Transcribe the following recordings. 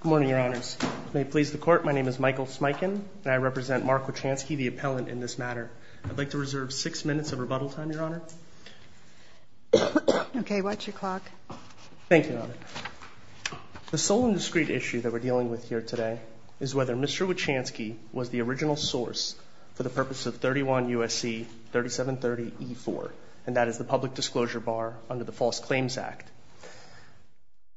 Good morning, Your Honors. May it please the Court, my name is Michael Smikin, and I represent Marc Wichansky, the appellant in this matter. I'd like to reserve six minutes of rebuttal time, Your Honor. Okay, watch your clock. Thank you, Your Honor. The sole and discrete issue that we're dealing with here today is whether Mr. Wichansky was the original source for the purpose of 31 U.S.C. 3730E4, and that is the public disclosure bar under the False Claims Act.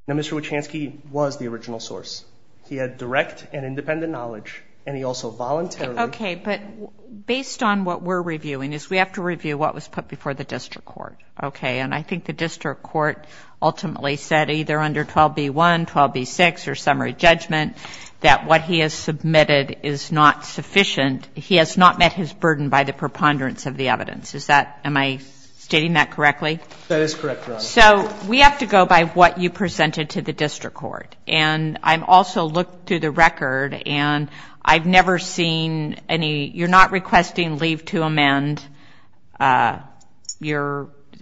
Now, Mr. Wichansky was the original source. He had direct and independent knowledge, and he also voluntarily... Okay, but based on what we're reviewing is we have to review what was put before the District Court. Okay, and I think the District Court ultimately said, either under 12b1, 12b6, or summary judgment, that what he has submitted is not sufficient. He has not met his burden by the preponderance of the evidence. Is that, am I stating that correctly? That is correct, Your Honor. So we have to go by what you presented to the District Court, and I've also looked through the record, and I've never seen any... You're not requesting leave to amend. You've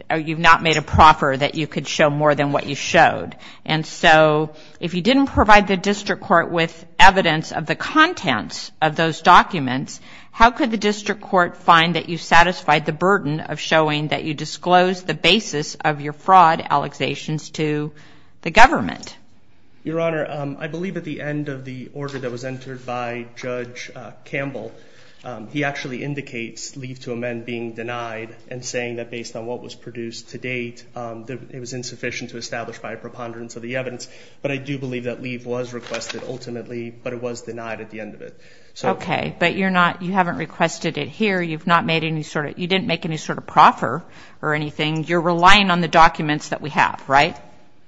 not made a proffer that you could show more than what you showed, and so if you didn't provide the District Court with evidence of the contents of those documents, how could the District Court find that you satisfied the burden of the government? Your Honor, I believe at the end of the order that was entered by Judge Campbell, he actually indicates leave to amend being denied, and saying that based on what was produced to date, it was insufficient to establish by preponderance of the evidence. But I do believe that leave was requested ultimately, but it was denied at the end of it. Okay, but you're not, you haven't requested it here. You've not made any sort of, you didn't make any sort of request.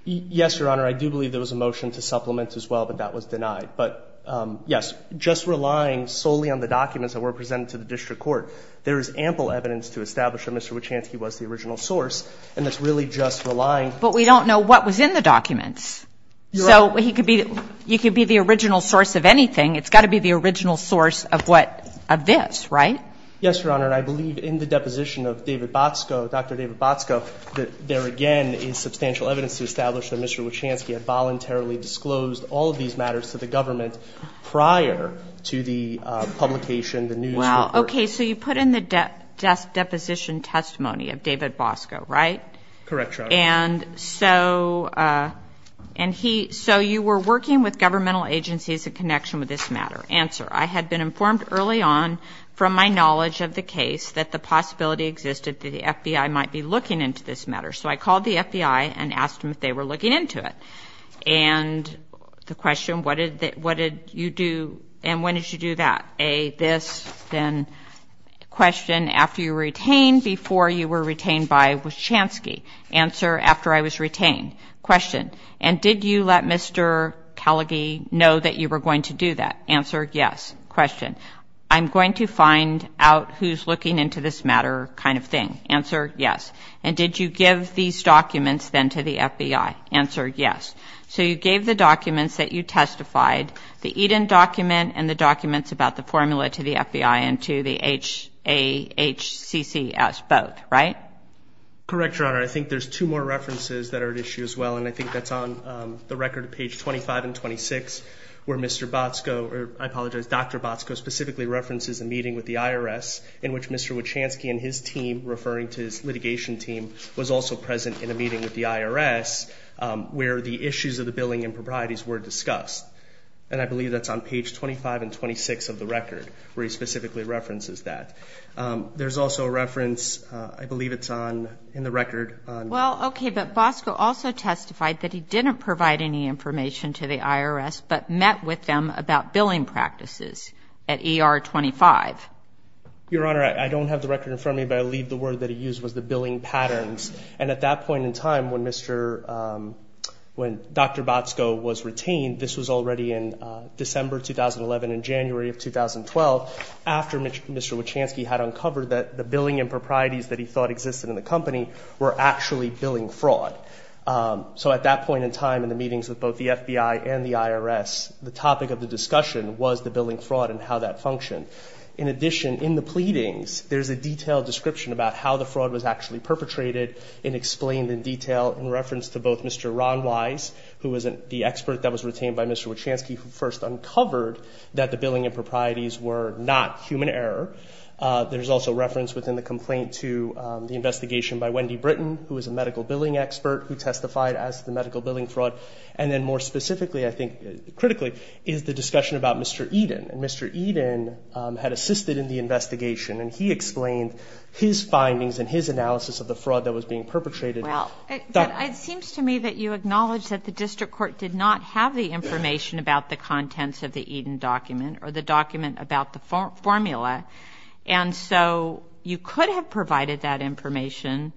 Yes, Your Honor. I believe that there was a motion to supplement as well, but that was denied. But yes, just relying solely on the documents that were presented to the District Court, there is ample evidence to establish that Mr. Wachanski was the original source, and that's really just relying... But we don't know what was in the documents. Your Honor... So he could be, he could be the original source of anything. It's got to be the original source of what, of this, right? Yes, Your Honor, and I believe in the deposition of David Bosco, Dr. David Bosco, that there again is substantial evidence to establish that Mr. Wachanski had voluntarily disclosed all of these matters to the government prior to the publication, the news report. Well, okay, so you put in the deposition testimony of David Bosco, right? Correct, Your Honor. And so, and he, so you were working with governmental agencies in connection with this matter. Answer, I had been informed early on from my knowledge of the case that the possibility existed that the FBI might be looking into this matter. So I called the FBI and asked them if they were looking into it. And the question, what did you do, and when did you do that? A, this, then, question, after you were retained, before you were retained by Wachanski? Answer, after I was retained. Question, and did you let Mr. Kellege know that you were going to do that? Answer, yes. Question, I'm going to find out who's looking into this matter kind of thing. Answer, yes. And did you give these documents, then, to the FBI? Answer, yes. So you gave the documents that you testified, the Eden document and the documents about the formula to the FBI and to the HCCS, both, right? Correct, Your Honor. I think there's two more references that are at issue as well, and I think that's on the record, page 25 and 26, where Mr. Bosco, or I believe Dr. Bosco, specifically references a meeting with the IRS in which Mr. Wachanski and his team, referring to his litigation team, was also present in a meeting with the IRS, where the issues of the billing improprieties were discussed. And I believe that's on page 25 and 26 of the record, where he specifically references that. There's also a reference, I believe it's on, in the record, on... Well, okay, but Bosco also testified that he didn't provide any information to the IRS, but met with them about billing practices at ER-25. Your Honor, I don't have the record in front of me, but I'll leave the word that he used, was the billing patterns. And at that point in time, when Dr. Bosco was retained, this was already in December 2011 and January of 2012, after Mr. Wachanski had uncovered that the billing improprieties that he thought existed in the company were actually billing fraud. So at that point in time, in the meetings with both the FBI and the IRS, the topic of the discussion was the billing fraud and how that functioned. In addition, in the pleadings, there's a detailed description about how the fraud was actually perpetrated and explained in detail, in reference to both Mr. Ron Wise, who was the expert that was retained by Mr. Wachanski, who first uncovered that the billing improprieties were not human error. There's also reference within the complaint to the investigation by Wendy Britton, who is a medical billing fraud. And then more specifically, I think, critically, is the discussion about Mr. Eden. And Mr. Eden had assisted in the investigation, and he explained his findings and his analysis of the fraud that was being perpetrated. Well, it seems to me that you acknowledge that the district court did not have the information about the contents of the Eden document or the document about the formula. And so you could have provided that information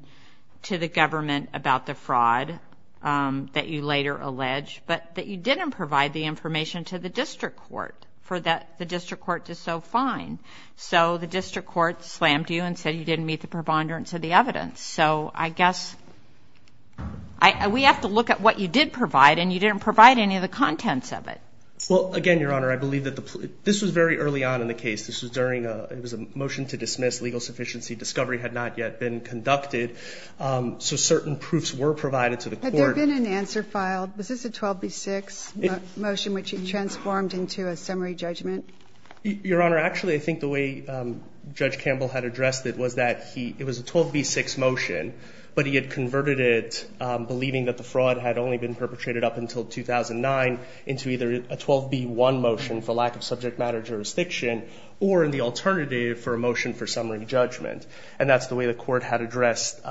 to the government about the fraud that you later alleged, but that you didn't provide the information to the district court for the district court to so find. So the district court slammed you and said you didn't meet the preponderance of the evidence. So I guess we have to look at what you did provide, and you didn't provide any of the contents of it. Well, again, Your Honor, I believe that this was very early on in the case. This was during a motion to dismiss legal sufficiency. Discovery had not yet been conducted. So certain proofs were provided to the court. Had there been an answer filed? Was this a 12B6 motion, which you transformed into a summary judgment? Your Honor, actually, I think the way Judge Campbell had addressed it was that it was a 12B6 motion, but he had converted it, believing that the fraud had only been perpetrated up until 2009, into either a 12B1 motion for lack of subject matter jurisdiction, or the alternative for a motion for summary judgment. And that's the way the court had addressed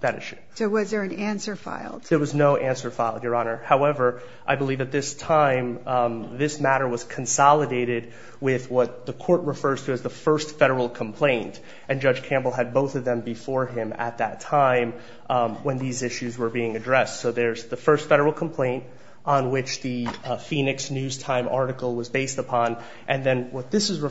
that issue. So was there an answer filed? There was no answer filed, Your Honor. However, I believe at this time, this matter was consolidated with what the court refers to as the first federal complaint. And Judge Campbell had both of them before him at that time when these issues were being addressed. So there's the first federal complaint on which the Phoenix News Time article was based upon. And then what this is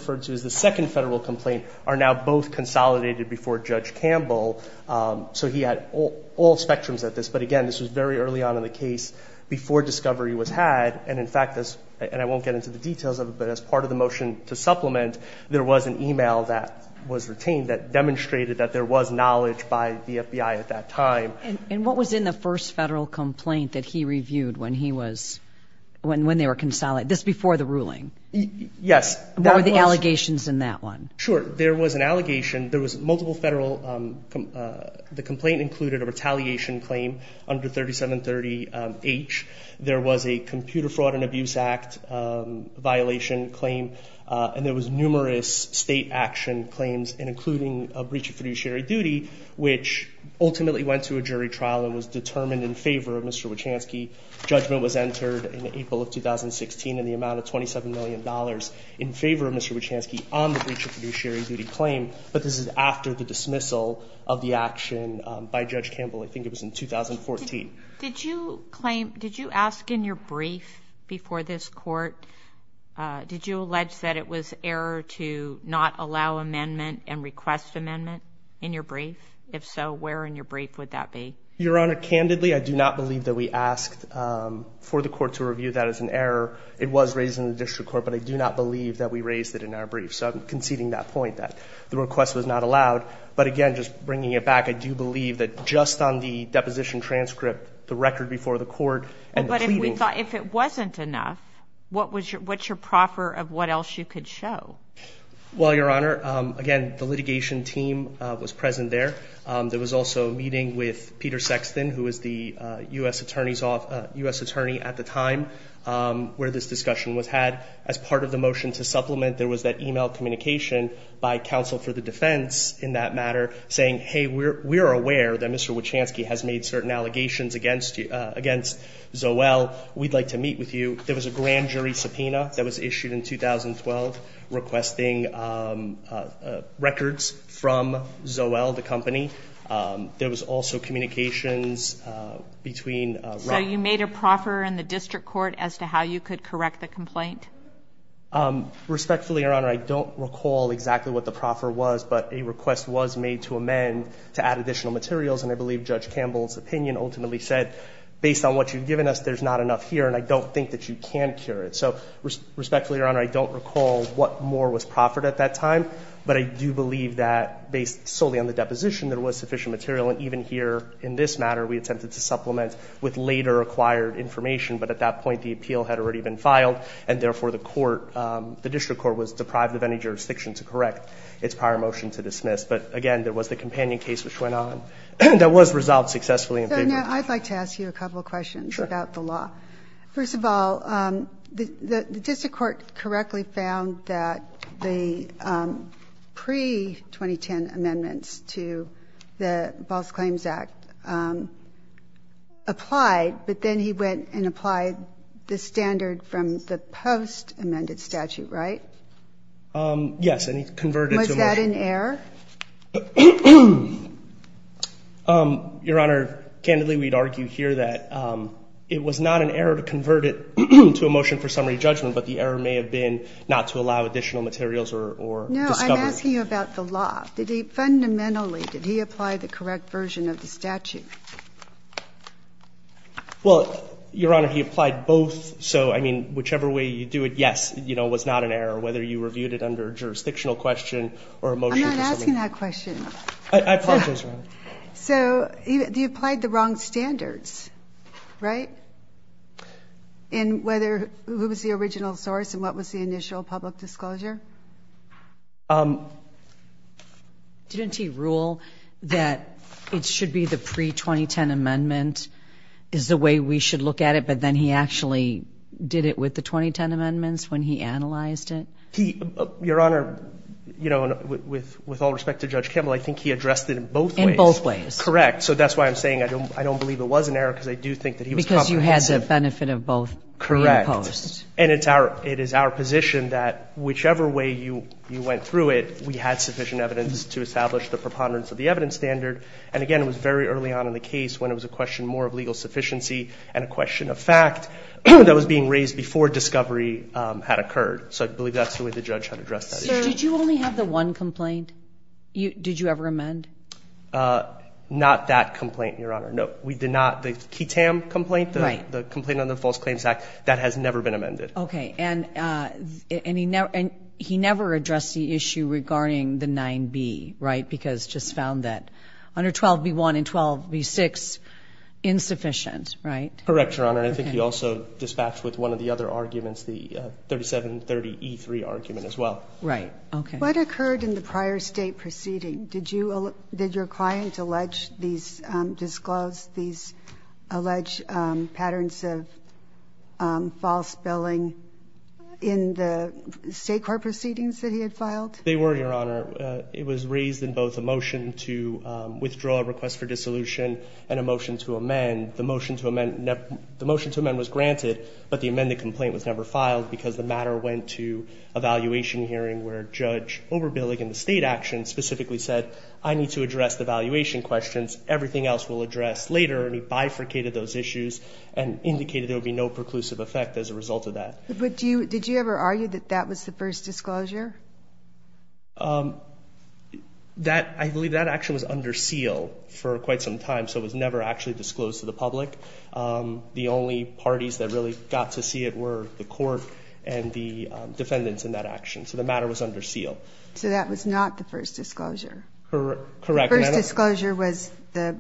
now both consolidated before Judge Campbell. So he had all spectrums at this. But again, this was very early on in the case before discovery was had. And in fact, and I won't get into the details of it, but as part of the motion to supplement, there was an email that was retained that demonstrated that there was knowledge by the FBI at that time. And what was in the first federal complaint that he reviewed when he was, when they were consolidated? This was before the ruling? Yes. What were the allegations in that one? Sure. There was an allegation. There was multiple federal, the complaint included a retaliation claim under 3730H. There was a Computer Fraud and Abuse Act violation claim. And there was numerous state action claims and including a breach of fiduciary duty, which ultimately went to a jury trial and was determined in favor of Mr. Wachanski. Judgment was entered in April of 2016 in the amount of $27 million in favor of Mr. Wachanski on the breach of fiduciary duty claim. But this is after the dismissal of the action by Judge Campbell. I think it was in 2014. Did you claim, did you ask in your brief before this court, did you allege that it was error to not allow amendment and request amendment in your brief? If so, where in your brief would that be? Your Honor, candidly, I do not believe that we asked for the court to review that as an error. It was raised in the district court, but I do not believe that we raised it in our brief. So I'm conceding that point, that the request was not allowed. But again, just bringing it back, I do believe that just on the deposition transcript, the record before the court, and the pleading. But if it wasn't enough, what's your proffer of what else you could show? Well, Your Honor, again, the litigation team was present there. There was also a meeting with Peter Sexton, who was the U.S. attorney at the time where this discussion was had. As part of the motion to supplement, there was that e-mail communication by counsel for the defense in that matter, saying, hey, we're aware that Mr. Wachanski has made certain allegations against Zoell. We'd like to meet with you. There was a grand jury subpoena that was issued in 2012 requesting records from Zoell, the company. There was also communications between Rock. So you made a proffer in the district court as to how you could correct the complaint? Respectfully, Your Honor, I don't recall exactly what the proffer was, but a request was made to amend to add additional materials. And I believe Judge Campbell's opinion ultimately said, based on what you've given us, there's not enough here, and I don't think that you can cure it. So respectfully, Your Honor, I don't know what more was proffered at that time, but I do believe that based solely on the deposition, there was sufficient material. And even here in this matter, we attempted to supplement with later acquired information. But at that point, the appeal had already been filed, and therefore the court, the district court, was deprived of any jurisdiction to correct its prior motion to dismiss. But again, there was the companion case which went on that was resolved successfully in favor of the district court. So now I'd like to ask you a couple of questions about the law. First of all, the district court correctly found that the pre-2010 amendments to the False Claims Act applied, but then he went and applied the standard from the post- amended statute, right? Yes, and he converted to a motion. Was that an error? Your Honor, candidly, we'd argue here that it was not an error to convert it to a motion for summary judgment, but the error may have been not to allow additional materials or discovery. No, I'm asking you about the law. Fundamentally, did he apply the correct version of the statute? Well, Your Honor, he applied both. So, I mean, whichever way you do it, yes, you know, it was not an error, whether you reviewed it under a jurisdictional question or a motion for summary judgment. I'm not asking that question. I apologize, Your Honor. So, he applied the wrong standards, right, in whether who was the original source and what was the initial public disclosure? Didn't he rule that it should be the pre-2010 amendment is the way we should look at it, but then he actually did it with the 2010 amendments when he analyzed it? Your Honor, you know, with all respect to Judge Kimmel, I think he addressed it in both ways. In both ways. Correct. So, that's why I'm saying I don't believe it was an error because I do think that he was comprehensive. Because you had the benefit of both pre and post. Correct. And it is our position that whichever way you went through it, we had sufficient evidence to establish the preponderance of the evidence standard. And, again, it was very early on in the case when it was a question more of legal sufficiency and a question of fact that was being raised before discovery had occurred. So, I believe that's the way the judge had addressed that issue. Did you only have the one complaint? Did you ever amend? Not that complaint, Your Honor. No. We did not. The Kitam complaint, the complaint under the False Claims Act, that has never been amended. Okay. And he never addressed the issue regarding the 9B, right, because just found that under 12B1 and 12B6 insufficient, right? Correct, Your Honor. And I think he also dispatched with one of the other arguments, the 3730E3 argument as well. Right. Okay. What occurred in the prior State proceeding? Did you, did your client allege these, disclose these alleged patterns of false billing in the State court proceedings that he had filed? They were, Your Honor. It was raised in both a motion to withdraw a request for dissolution and a motion to amend. The motion to amend, the motion to amend was granted, but the amended complaint was never filed because the matter went to a valuation hearing where Judge Oberbillig in the State action specifically said, I need to address the valuation questions. Everything else we'll address later. And he bifurcated those issues and indicated there would be no preclusive effect as a result of that. But do you, did you ever argue that that was the first disclosure? That, I believe that action was under seal for quite some time, so it was never actually disclosed to the public. The only parties that really got to see it were the court and the defendants in that action. So the matter was under seal. So that was not the first disclosure? Correct. The first disclosure was the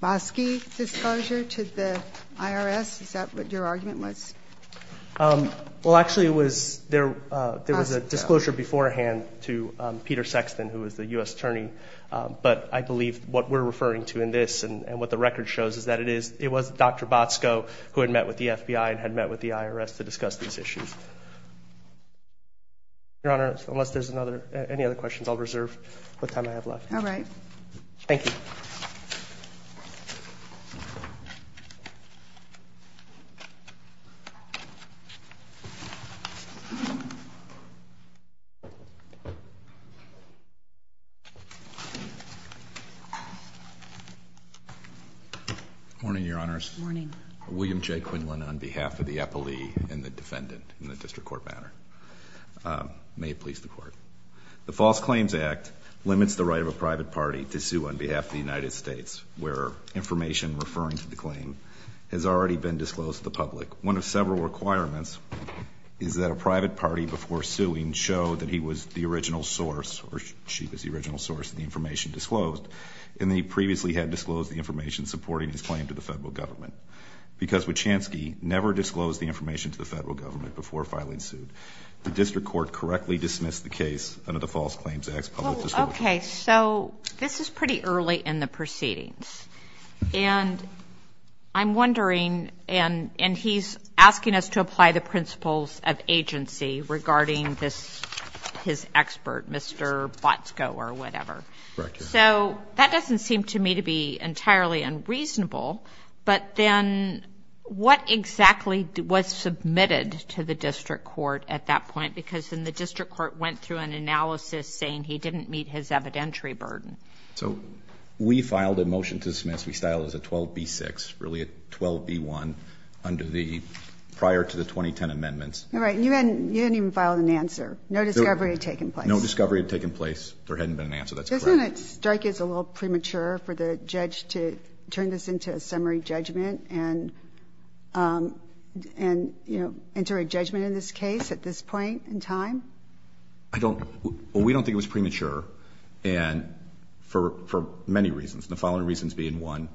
Bosky disclosure to the IRS? Is that what your argument was? Well, actually it was, there was a disclosure beforehand to Peter Sexton, who was the U.S. Attorney. But I believe what we're referring to in this and what the record shows is that it was Dr. Botsko who had met with the FBI and had met with the IRS to discuss these issues. Your Honor, unless there's any other questions, I'll reserve the time I have left. All right. Thank you. Morning, Your Honors. Morning. William J. Quinlan on behalf of the appellee and the defendant in the district court matter. May it please the Court. The False Claims Act limits the right of a private party to sue on behalf of the United States where information referring to the claim has already been disclosed to the public. One of several requirements is that a private party before suing show that he was the original source or she was the original source of the information disclosed and that he previously had disclosed the information supporting his claim to the Federal Government. Because Wachansky never disclosed the information to the Federal Government before filing suit, the district court correctly dismissed the case under the False Claims Act's public disclosure. Well, okay. So this is pretty early in the proceedings. And I'm wondering, and he's asking us to apply the principles of agency regarding this, his expert, Mr. Botsko or whatever. Correct. So that doesn't seem to me to be entirely unreasonable. But then what exactly was submitted to the district court at that point? Because then the district court went through an analysis saying he didn't meet his evidentiary burden. So we filed a motion to dismiss. We filed it as a 12B6, really a 12B1 under the prior to the 2010 amendments. All right. You didn't even file an answer. No discovery had taken place. No discovery had taken place. There hadn't been an answer. That's correct. Doesn't it strike you as a little premature for the judge to turn this into a summary judgment and, you know, enter a judgment in this case at this point in time? I don't. Well, we don't think it was premature for many reasons, the following reasons being, one,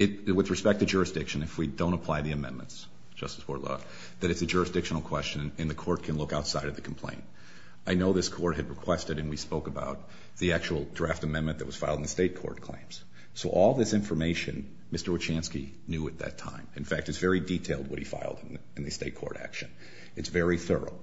with respect to jurisdiction, if we don't apply the amendments, Justice Bortolotti, that it's a jurisdictional question and the court can look outside of the complaint. I know this court had requested and we spoke about the actual draft amendment that was filed in the state court claims. So all this information, Mr. Wachanski knew at that time. In fact, it's very detailed what he filed in the state court action. It's very thorough.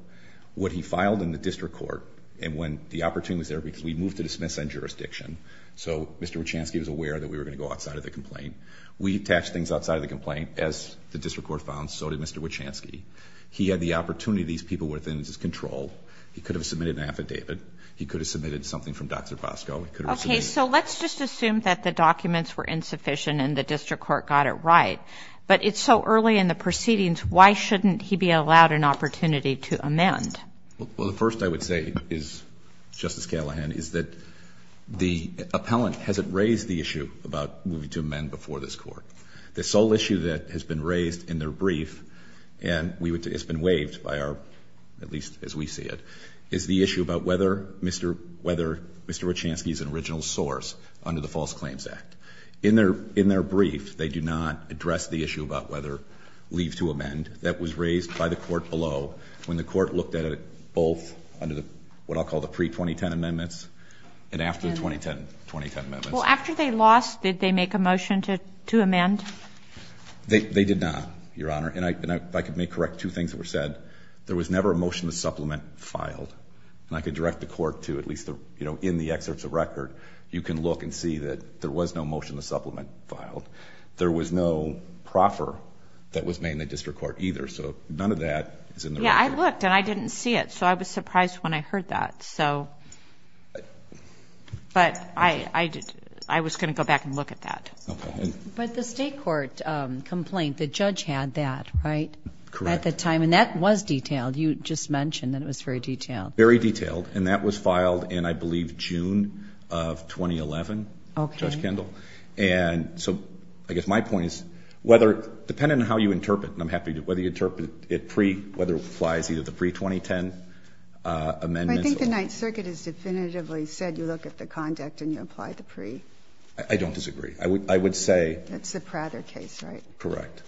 What he filed in the district court and when the opportunity was there because we moved to dismiss on jurisdiction, so Mr. Wachanski was aware that we were going to go outside of the complaint. We attached things outside of the complaint. As the district court found, so did Mr. Wachanski. He had the opportunity. These people were within his control. He could have submitted an affidavit. He could have submitted something from Dr. Bosco. Okay. So let's just assume that the documents were insufficient and the district court got it right. But it's so early in the proceedings. Why shouldn't he be allowed an opportunity to amend? Well, the first I would say is, Justice Callahan, is that the appellant hasn't raised the issue about moving to amend before this court. This sole issue that has been raised in their brief and has been waived by our, at least as we see it, is the issue about whether Mr. Wachanski is an original source under the False Claims Act. In their brief, they do not address the issue about whether leave to amend. That was raised by the court below when the court looked at it both under what I'll call the pre-2010 amendments and after the 2010 amendments. Well, after they lost, did they make a motion to amend? They did not, Your Honor. And if I may correct two things that were said, there was never a motion to supplement filed. And I could direct the court to, at least in the excerpts of record, you can look and see that there was no motion to supplement filed. There was no proffer that was made in the district court either. So none of that is in the record. Yeah, I looked and I didn't see it. So I was surprised when I heard that. But I was going to go back and look at that. Okay. But the state court complaint, the judge had that, right? Correct. At the time. And that was detailed. You just mentioned that it was very detailed. Very detailed. And that was filed in, I believe, June of 2011, Judge Kendall. Okay. And so I guess my point is, depending on how you interpret it, and I'm happy whether you interpret it pre- whether it applies either the pre-2010 amendments or the 2010 amendments, What it really comes down to is the conduct. And so, I mean, I don't disagree. I don't disagree. I would say. That's the Prather case, right? Correct.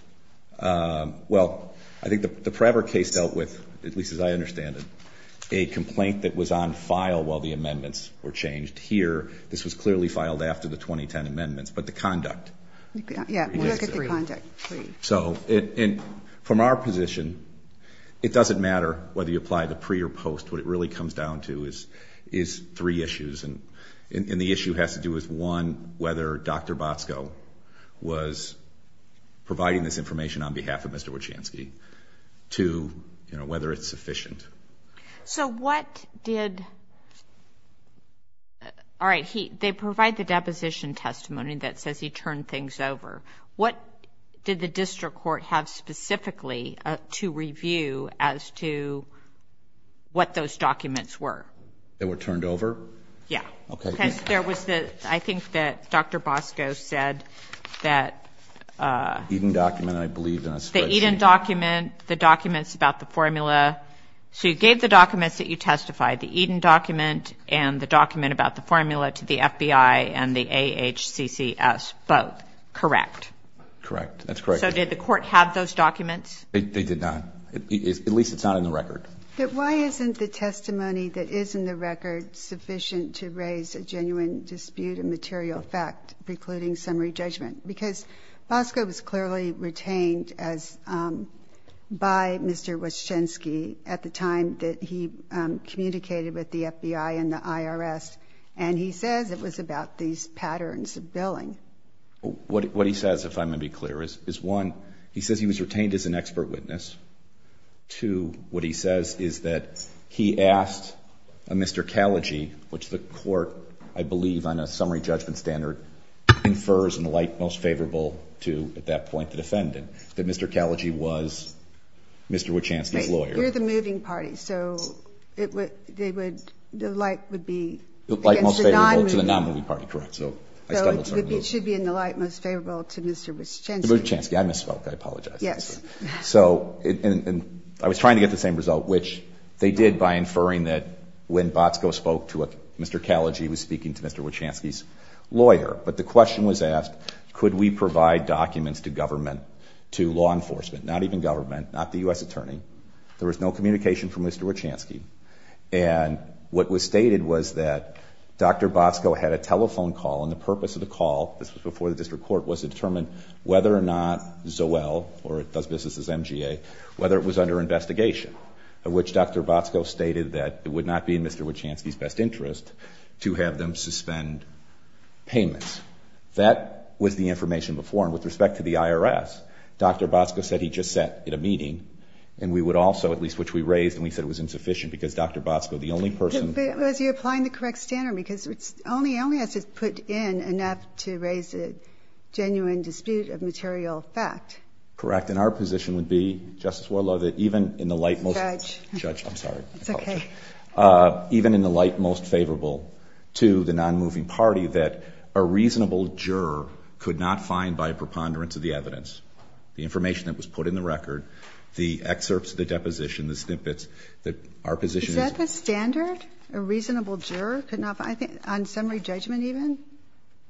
Well, I think the Prather case dealt with, at least as I understand it, a complaint that was on file while the amendments were changed. Here, this was clearly filed after the 2010 amendments. But the conduct. Yeah. Look at the conduct. So, from our position, it doesn't matter whether you apply the pre or post. What it really comes down to is three issues. And the issue has to do with, one, whether Dr. Botsko was providing this information on behalf of Mr. Wachanski. Two, you know, whether it's sufficient. So what did. All right. So they provide the deposition testimony that says he turned things over. What did the district court have specifically to review as to what those documents were? They were turned over. Yeah. Okay. There was the. I think that Dr. Botsko said that. Even document, I believe. The Eden document, the documents about the formula. So you gave the documents that you testified the Eden document and the FBI and the AHCCS both. Correct. Correct. That's correct. So did the court have those documents? They did not. At least it's not in the record. But why isn't the testimony that is in the record sufficient to raise a genuine dispute and material fact, precluding summary judgment, because Bosco was clearly retained as by Mr. Wachanski at the time that he communicated with the FBI and the IRS. And he says it was about these patterns of billing. What he says, if I'm going to be clear is, is one, he says he was retained as an expert witness to what he says is that he asked a Mr. Callagy, which the court, I believe on a summary judgment standard infers in the light, most favorable to at that point, the defendant that Mr. Callagy was Mr. Wachanski's lawyer, the moving party. So it would, they would, the light would be to the non-movie party. Correct. So it should be in the light, most favorable to Mr. Wachanski. I misspoke. I apologize. So I was trying to get the same result, which they did by inferring that when Bosco spoke to Mr. Callagy, he was speaking to Mr. Wachanski's lawyer, but the question was asked, could we provide documents to government, to law enforcement, not even government, not the U S attorney. There was no communication from Mr. Wachanski. And what was stated was that Dr. Bosco had a telephone call. And the purpose of the call, this was before the district court was to determine whether or not Zoell or it does businesses, MGA, whether it was under investigation of which Dr. Bosco stated that it would not be in Mr. Wachanski's best interest to have them suspend payments. That was the information before. And with respect to the IRS, Dr. Bosco said, he just sat in a meeting and we would also, at least which we raised. And we said it was insufficient because Dr. Bosco, the only person applying the correct standard, because it's only, only has to put in enough to raise it. Genuine dispute of material fact. Correct. And our position would be justice war law that even in the light, most judge, I'm sorry. It's okay. Even in the light, most favorable to the non-moving party, that a reasonable juror could not find by preponderance of the evidence, the information that was put in the record, the excerpts, the deposition, the snippets that our position. Is that the standard? A reasonable juror could not, I think on summary judgment, even.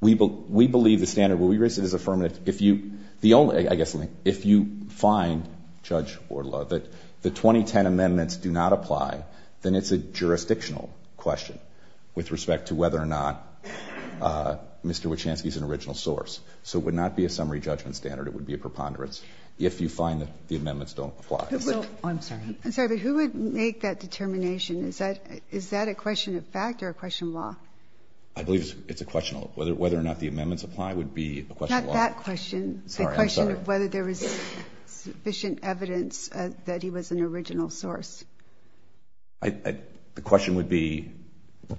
We, we believe the standard where we raised it as affirmative. If you, the only, I guess, if you find judge or law that the 2010 amendments do not apply, then it's a jurisdictional question with respect to whether or not Mr. Wachanski is an original source. So it would not be a summary judgment standard. It would be a preponderance. If you find that the amendments don't apply. I'm sorry. I'm sorry, but who would make that determination? Is that, is that a question of fact or a question of law? I believe it's a question of whether, whether or not the amendments apply would be a question of law. Not that question. Sorry. The question of whether there was sufficient evidence that he was an original source. I, the question would be,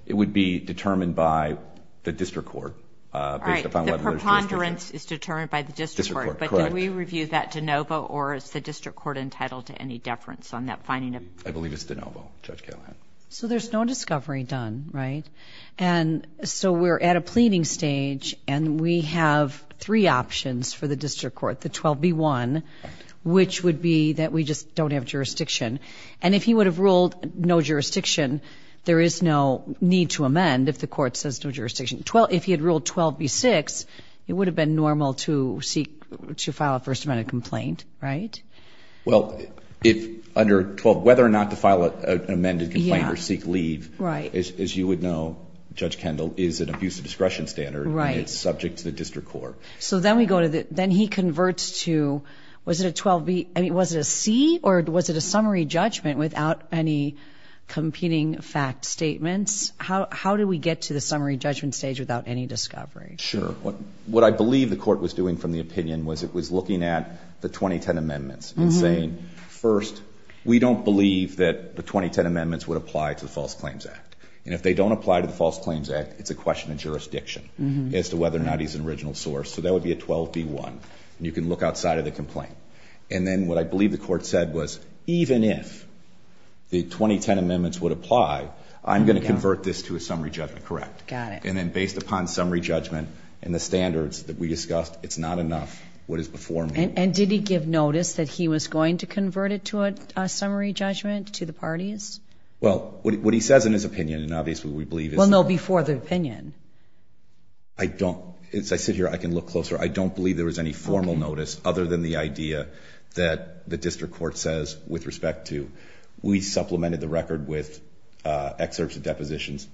it would be determined by the district court. All right. The preponderance is determined by the district court. Correct. Did we review that DeNovo or is the district court entitled to any deference on that finding? I believe it's DeNovo. Judge Callahan. So there's no discovery done. Right. And so we're at a pleading stage and we have three options for the district court, the 12 B one, which would be that we just don't have jurisdiction. And if he would have ruled no jurisdiction, there is no need to amend. If the court says no jurisdiction, 12, if he had ruled 12 B six, it would have been normal to seek to file a first amendment complaint, right? Well, if under 12, whether or not to file an amended complaint or seek leave, as you would know, judge Kendall is an abusive discretion standard and it's subject to the district court. So then we go to the, then he converts to, was it a 12 B, I mean, was it a C or was it a summary judgment without any competing fact statements? How, how do we get to the summary judgment stage without any discovery? Sure. What I believe the court was doing from the opinion was it was looking at the 2010 amendments and saying, first, we don't believe that the 2010 amendments would apply to the false claims act. And if they don't apply to the false claims act, it's a question of jurisdiction as to whether or not he's an original source. So that would be a 12 B one. And you can look outside of the complaint. And then what I believe the court said was, even if the 2010 amendments would apply, I'm going to convert this to a summary judgment. Correct. Got it. And then based upon summary judgment and the standards that we discussed, it's not enough. What is before me. And did he give notice that he was going to convert it to a summary judgment to the parties? Well, what he says in his opinion, and obviously we believe is no before the opinion. I don't, it's, I sit here, I can look closer. I don't believe there was any formal notice other than the idea that the district court says, with respect to, we supplemented the record with, uh, excerpts of depositions.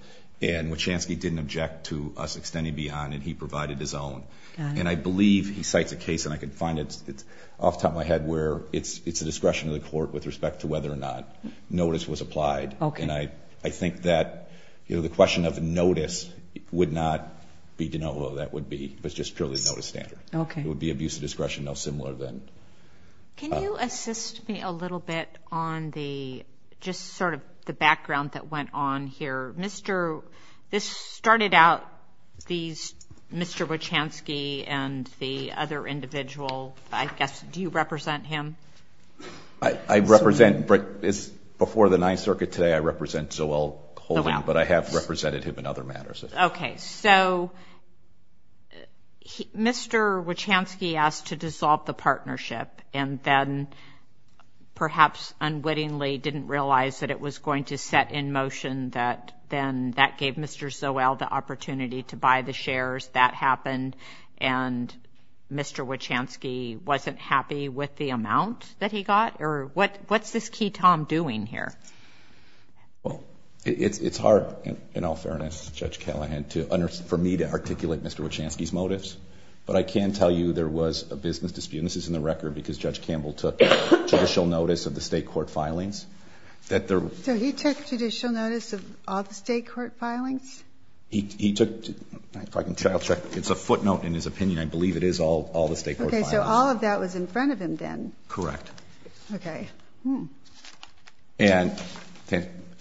And what chance he didn't object to us extending beyond, and he provided his own. And I believe he cites a case and I could find it. It's off the top of my head where it's, it's a discretion of the court with respect to whether or not notice was applied. And I, I think that, you know, the question of notice would not be to know what that would be, but it's just purely notice standard. Okay. It would be abuse of discretion. No similar than. Can you assist me a little bit on the, just sort of the background that went on here. Mr. This started out these Mr. Wachansky and the other individual, I guess, do you represent him? I represent, but it's before the ninth circuit today. I represent so well, but I have represented him in other matters. Okay. So Mr. Wachansky asked to dissolve the partnership and then perhaps unwittingly didn't realize that it was going to set in motion that then that gave Mr. So well, the opportunity to buy the shares that happened and Mr. Wachansky wasn't happy with the amount that he got or what, what's this key Tom doing here? Well, it's, it's hard in all fairness, judge Callahan to understand for me to articulate Mr. Wachansky's motives, but I can tell you there was a business dispute. And this is in the record because judge Campbell took judicial notice of the state court filings. So he took judicial notice of all the state court filings. He took, if I can check, I'll check. It's a footnote in his opinion. I believe it is all, all the state court. So all of that was in front of him then. Correct. Okay. Hmm. And,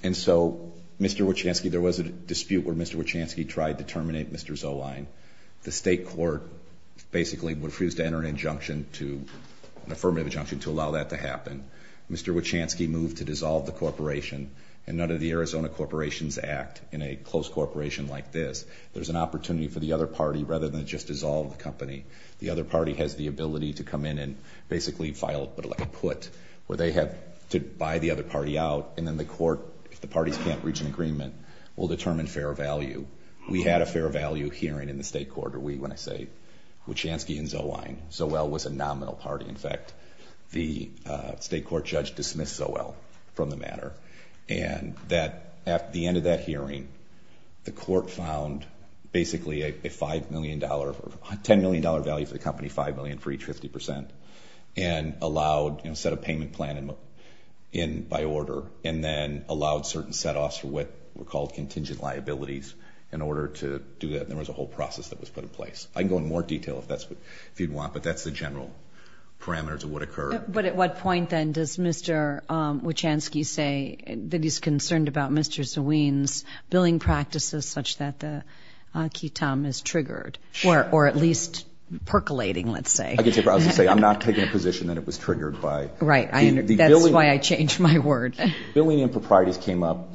and so Mr. Wachansky, there was a dispute where Mr. Wachansky tried to terminate Mr. Zoline. The state court basically refused to enter an injunction to an affirmative injunction to allow that to happen. Mr. Wachansky moved to dissolve the corporation and none of the Arizona corporations act in a close corporation like this. There's an opportunity for the other party rather than just dissolve the company. The other party has the ability to come in and basically file, but like a put where they have to buy the other party out. And then the court, if the parties can't reach an agreement, we'll determine fair value. We had a fair value hearing in the state court or we, when I say Wachansky and Zoline, so well was a nominal party. In fact, the state court judge dismissed so well from the matter and that at the end of that hearing, the court found basically a $5 million or $10 million value for the company, 5 million for each 50% and allowed, you know, set a payment plan in, in by order and then allowed certain set offs for what were called contingent liabilities in order to do that. And there was a whole process that was put in place. I can go in more detail if that's what you'd want, but that's the general parameters of what occurred. But at what point then does Mr. Wachansky say that he's concerned about Mr. Zoline's billing practices, such that the key Tom is triggered or, or at least percolating, let's say, I was going to say, I'm not taking a position that it was triggered by, right? That's why I changed my word. Billing and proprietors came up.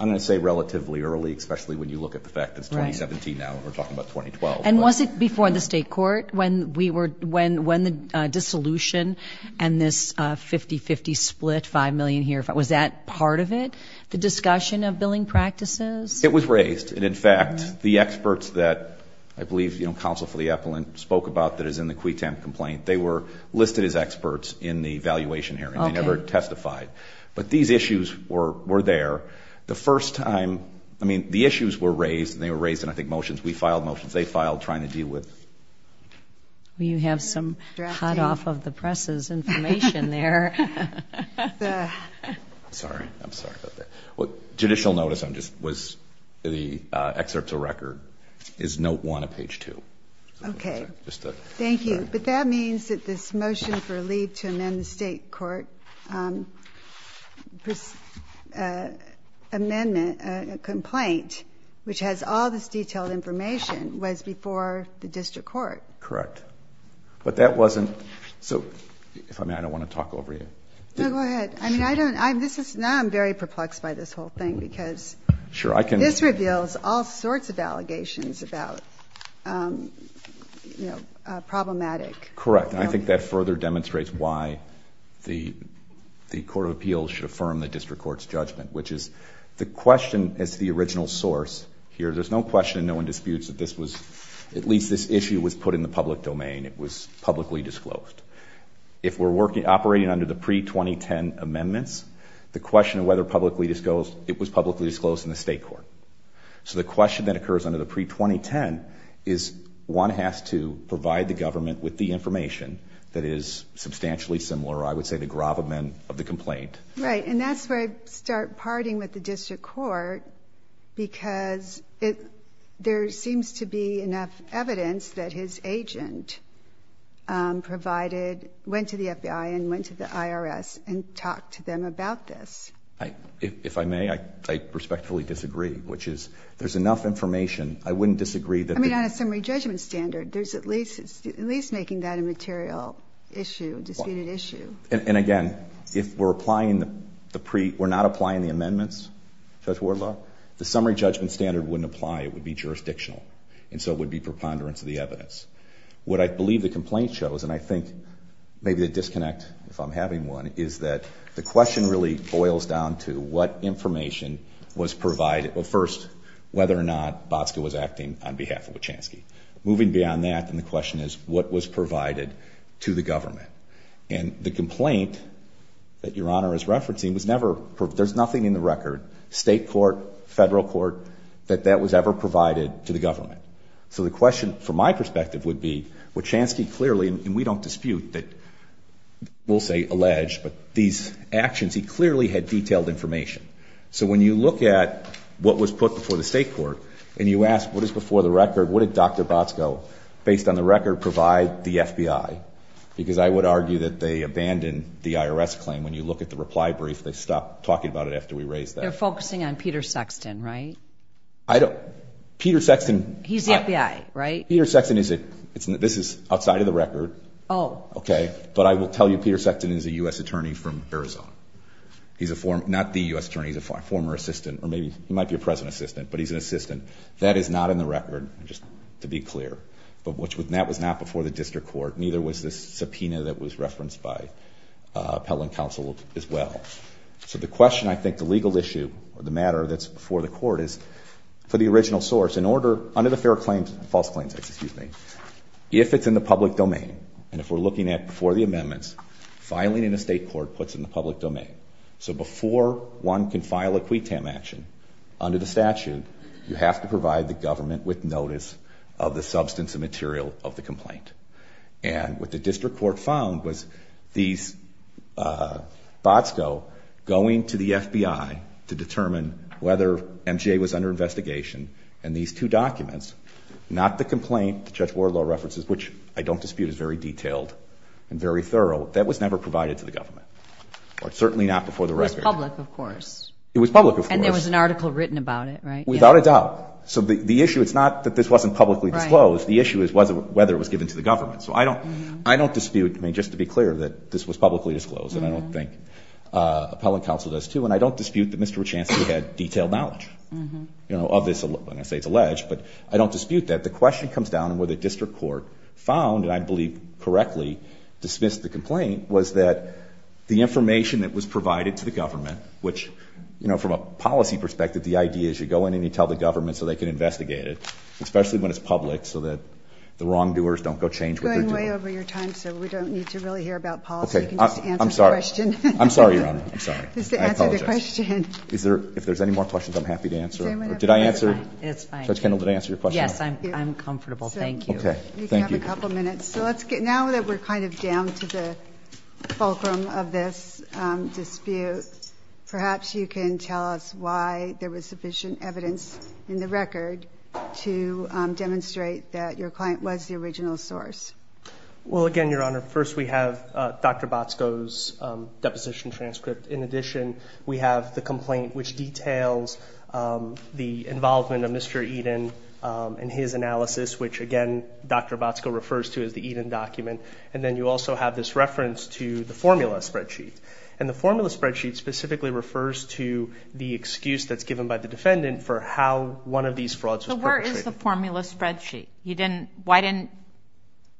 I'm going to say relatively early, especially when you look at the fact that it's 2017 now, and we're talking about 2012. And was it before the state court? When we were, when, when the dissolution and this 50, 50 split 5 million here, if I was at part of it, the discussion of billing practices, it was raised. And in fact, the experts that I believe, you know, counsel for the appellant spoke about that is in the complaint. They were listed as experts in the valuation hearing. They never testified, but these issues were, were there the first time. I mean, the issues were raised and they were raised. And I think motions, we filed motions. They filed trying to deal with, well, you have some hot off of the presses information there. Sorry. I'm sorry about that. Well, judicial notice. I'm just, was the excerpt to record is note one, a page two. Okay. Thank you. But that means that this motion for a lead to amend the state court amendment complaint, which has all this detailed information was before the district court. Correct. But that wasn't. So if I may, I don't want to talk over you. No, go ahead. I mean, I don't, I'm, this is now I'm very perplexed by this whole thing because sure, I can, this reveals all sorts of allegations about problematic. Correct. And I think that further demonstrates why the, the court of appeals should affirm the district court's judgment, which is the question. As to the original source here, there's no question and no one disputes that this was at least this issue was put in the public domain. It was publicly disclosed. If we're working, operating under the pre 2010 amendments, the question of whether publicly disclosed, it was publicly disclosed in the state court. So the question that occurs under the pre 2010 is one has to provide the government with the information that is substantially similar. I would say the gravamen of the complaint. Right. And that's where I start parting with the district court because it, there seems to be enough evidence that his agent provided, went to the FBI and went to the IRS and talk to them about this. If I may, I respectfully disagree, which is there's enough information. I wouldn't disagree that. I mean, on a summary judgment standard, there's at least at least making that a material issue, disputed issue. And again, if we're applying the pre we're not applying the amendments, judge Ward love the summary judgment standard wouldn't apply. It would be jurisdictional. And so it would be preponderance of the evidence. What I believe the complaint shows. And I think maybe the disconnect, if I'm having one, is that the question really boils down to what information was provided. Well, first, whether or not Bosco was acting on behalf of the Chansky moving beyond that. And the question is what was provided to the government and the complaint that your honor is referencing was never, there's nothing in the record state court, federal court, that that was ever provided to the government. So the question from my perspective would be what Chansky clearly, and we don't dispute that. We'll say alleged, but these actions, he clearly had detailed information. So when you look at what was put before the state court and you ask what is before the record, what did Dr. Bosco based on the record, provide the FBI, because I would argue that they abandoned the IRS claim. When you look at the reply brief, they stopped talking about it after we raised that. They're focusing on Peter Sexton, right? I don't Peter Sexton. He's the FBI, right? Peter Sexton. Is it? It's not, this is outside of the record. Oh, okay. But I will tell you, Peter Sexton is a U S attorney from Arizona. He's a form, not the U S attorneys, a former assistant, or maybe he might be a present assistant, but he's an assistant that is not in the record. Just to be clear, but which was, and that was not before the district court. Neither was this subpoena that was referenced by appellant counsel as well. So the question, I think the legal issue or the matter that's before the court is for the original source in order under the fair claims, false claims, excuse me, if it's in the public domain, and if we're looking at before the amendments, finally in a state court puts in the public domain. So before one can file a quitam action under the statute, you have to provide the government with notice of the substance of material of the complaint. And what the district court found was these, uh, bots go going to the FBI to determine whether MJ was under investigation. And these two documents, not the complaint, the judge war law references, which I don't dispute is very detailed and very thorough. That was never provided to the government or certainly not before the record public. Of course it was public. And there was an article written about it, right? Without a doubt. So the, the issue, it's not that this wasn't publicly disclosed. The issue is whether it was given to the government. So I don't, I don't dispute. I mean, just to be clear that this was publicly disclosed and I don't think, uh, appellate counsel does too. And I don't dispute that Mr. Chancellor had detailed knowledge, you know, obviously when I say it's alleged, but I don't dispute that the question comes down and where the district court found, and I believe correctly dismissed the complaint was that the information that was provided to the government, which, you know, from a policy perspective, the idea is you go in and you tell the government so they can investigate it, especially when it's public so that the wrongdoers don't go change. We're going way over your time. So we don't need to really hear about policy. I'm sorry. I'm sorry, Your Honor. I'm sorry. I apologize. Is there, if there's any more questions, I'm happy to answer it. Or did I answer it? It's fine. Did I answer your question? I'm comfortable. Thank you. Thank you. A couple minutes. So let's get now that we're kind of down to the fulcrum of this, um, dispute. Perhaps you can tell us why there was sufficient evidence in the record to, um, demonstrate that your client was the original source. Well, again, Your Honor, first we have, uh, Dr. Botsko's, um, deposition transcript. In addition, we have the complaint, which details, um, the involvement of Mr. Eden, um, and his analysis, which again, Dr. Botsko refers to as the Eden document. And then you also have this reference to the formula spreadsheet. And the formula spreadsheet specifically refers to the excuse that's given by the defendant for how one of these frauds was perpetrated. So where is the formula spreadsheet? He didn't, why didn't,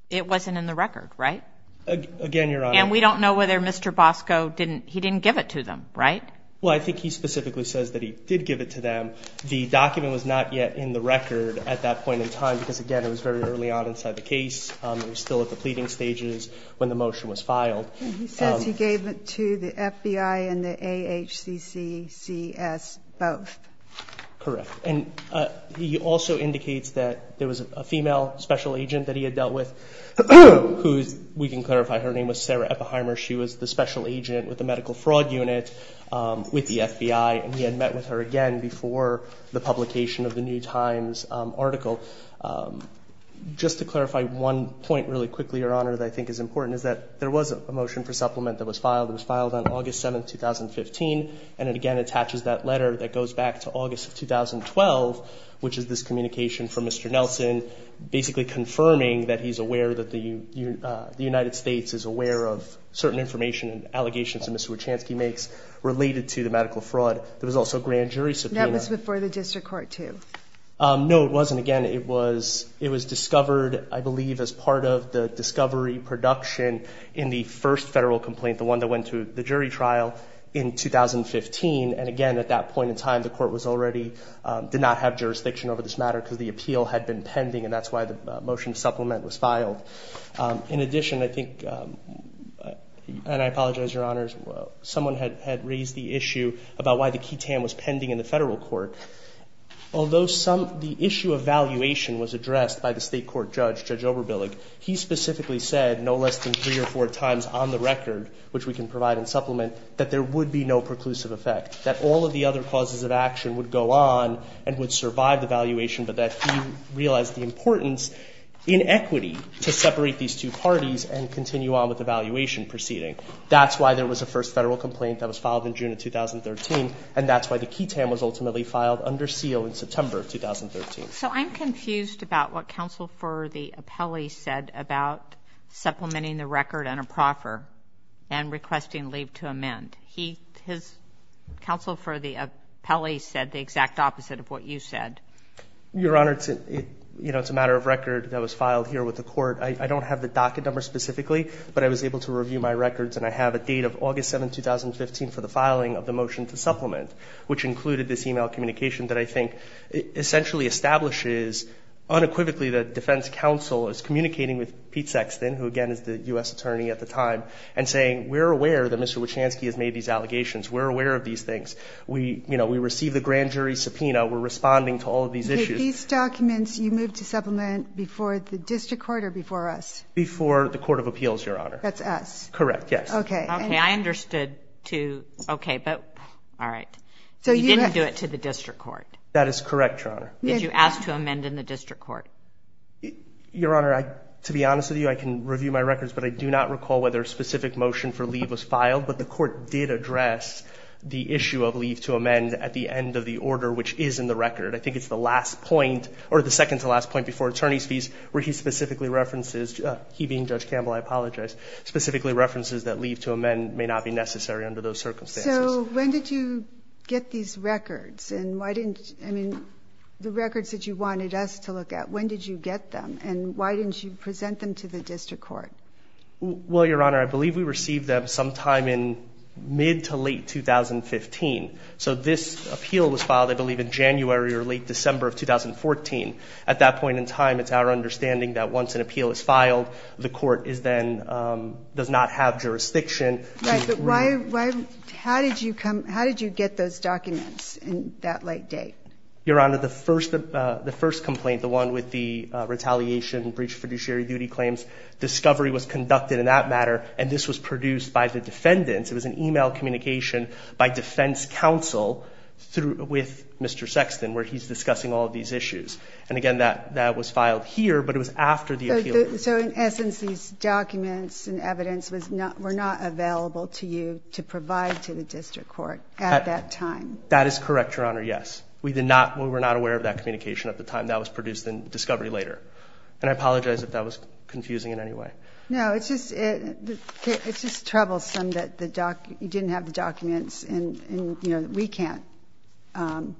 it wasn't in the record, right? Again, Your Honor. And we don't know whether Mr. Botsko didn't, he didn't give it to them, right? Well, I think he specifically says that he did give it to them. The document was not yet in the record at that point in time, because again, it was very early on inside the case. Um, it was still at the pleading stages when the motion was filed. He says he gave it to the FBI and the AHCCCS both. Correct. And, uh, he also indicates that there was a female special agent that he had dealt with who's, we can clarify her name was Sarah Epheimer. She was the special agent with the medical fraud unit, um, with the FBI. And he had met with her again before the publication of the new times, um, article. Um, just to clarify one point really quickly, Your Honor, that I think is important is that there was a motion for supplement that was filed. It was filed on August 7th, 2015. And it again, attaches that letter that goes back to August of 2012, which is this communication from Mr. Nelson, basically confirming that he's aware that the, you, uh, the United States is aware of certain information and allegations of Mr. Wachanski makes related to the medical fraud. There was also a grand jury subpoena. That was before the district court too. Um, no, it wasn't. Again, it was, it was discovered, I believe as part of the discovery production in the first federal complaint, the one that went to the jury trial in 2015. And again, at that point in time, the court was already, um, did not have jurisdiction over this matter because the appeal had been pending. And that's why the motion supplement was filed. Um, in addition, I think, um, and I apologize, Your Honors, someone had, had raised the issue about why the key tan was pending in the federal court. Although some, the issue of valuation was addressed by the state court judge, judge over Billig. He specifically said no less than three or four times on the record, which we can provide and supplement that there would be no preclusive effect, that all of the other causes of action would go on and would survive the valuation, but that he realized the importance in equity to separate these two parties and continue on with the valuation proceeding. That's why there was a first federal complaint that was filed in June of 2013. And that's why the key tan was ultimately filed under seal in September of 2013. So I'm confused about what counsel for the appellee said about supplementing the record and a proffer and requesting leave to amend. He has counsel for the appellee said the exact opposite of what you said. Your Honor. It's, you know, it's a matter of record that was filed here with the court. I don't have the docket number specifically, but I was able to review my records and I have a date of August 7th, 2015 for the filing of the motion to supplement, which included this email communication that I think essentially establishes unequivocally that defense counsel is communicating with Pete Sexton, who again is the U S attorney at the time and saying, we're aware that Mr. Wachanski has made these allegations. We're aware of these things. We, you know, we received the grand jury subpoena. We're responding to all of these issues. You moved to supplement before the district court or before us, before the court of appeals, your Honor. That's us. Correct. Yes. Okay. Okay. I understood too. Okay. But all right. So you didn't do it to the district court. That is correct. Your Honor. Did you ask to amend in the district court? Your Honor, I, to be honest with you, I can review my records, but I do not recall whether a specific motion for leave was filed, but the court did address the issue of leave to amend at the end of the order, I think it's the last point or the second to last point before attorney's fees where he specifically references he being judge Campbell. I apologize. But specifically references that leave to amend may not be necessary under those circumstances. When did you get these records and why didn't, I mean the records that you wanted us to look at, when did you get them and why didn't you present them to the district court? Well, your Honor, I believe we received them sometime in mid to late 2015. So this appeal was filed, I believe in January or late December of 2014 at that point in time, it's our understanding that once an appeal is filed, the court is then, um, does not have jurisdiction. Right. But why, why, how did you come, how did you get those documents in that late date? Your Honor, the first, uh, the first complaint, the one with the, uh, retaliation breach fiduciary duty claims discovery was conducted in that matter. And this was produced by the defendants. It was an email communication by defense counsel through with Mr. Sexton, where he's discussing all of these issues. And again, that that was filed here, but it was after the appeal. So, so in essence, these documents and evidence was not, we're not available to you to provide to the district court at that time. That is correct. Your Honor. Yes, we did not. We were not aware of that communication at the time that was produced in discovery later. And I apologize if that was confusing in any way. No, it's just, it's just troublesome that the doc, you didn't have the documents and, and you know, we can't, um,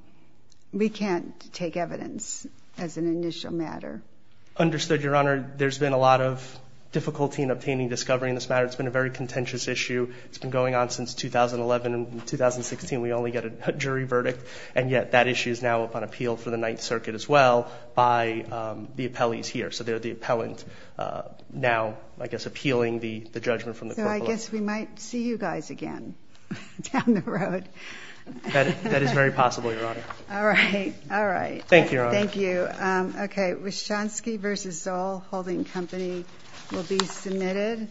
we can't take evidence as an initial matter. Understood your Honor. There's been a lot of difficulty in obtaining discovery in this matter. It's been a very contentious issue. It's been going on since 2011 and 2016. We only get a jury verdict. And yet that issue is now up on appeal for the ninth circuit as well by, um, the appellees here. So they're the appellant, uh, now, I guess, appealing the judgment from the court. So I guess we might see you guys again down the road. That is very possible. Your Honor. All right. All right. Thank you. Thank you. Um, okay. Was Shonsky versus all holding company will be submitted.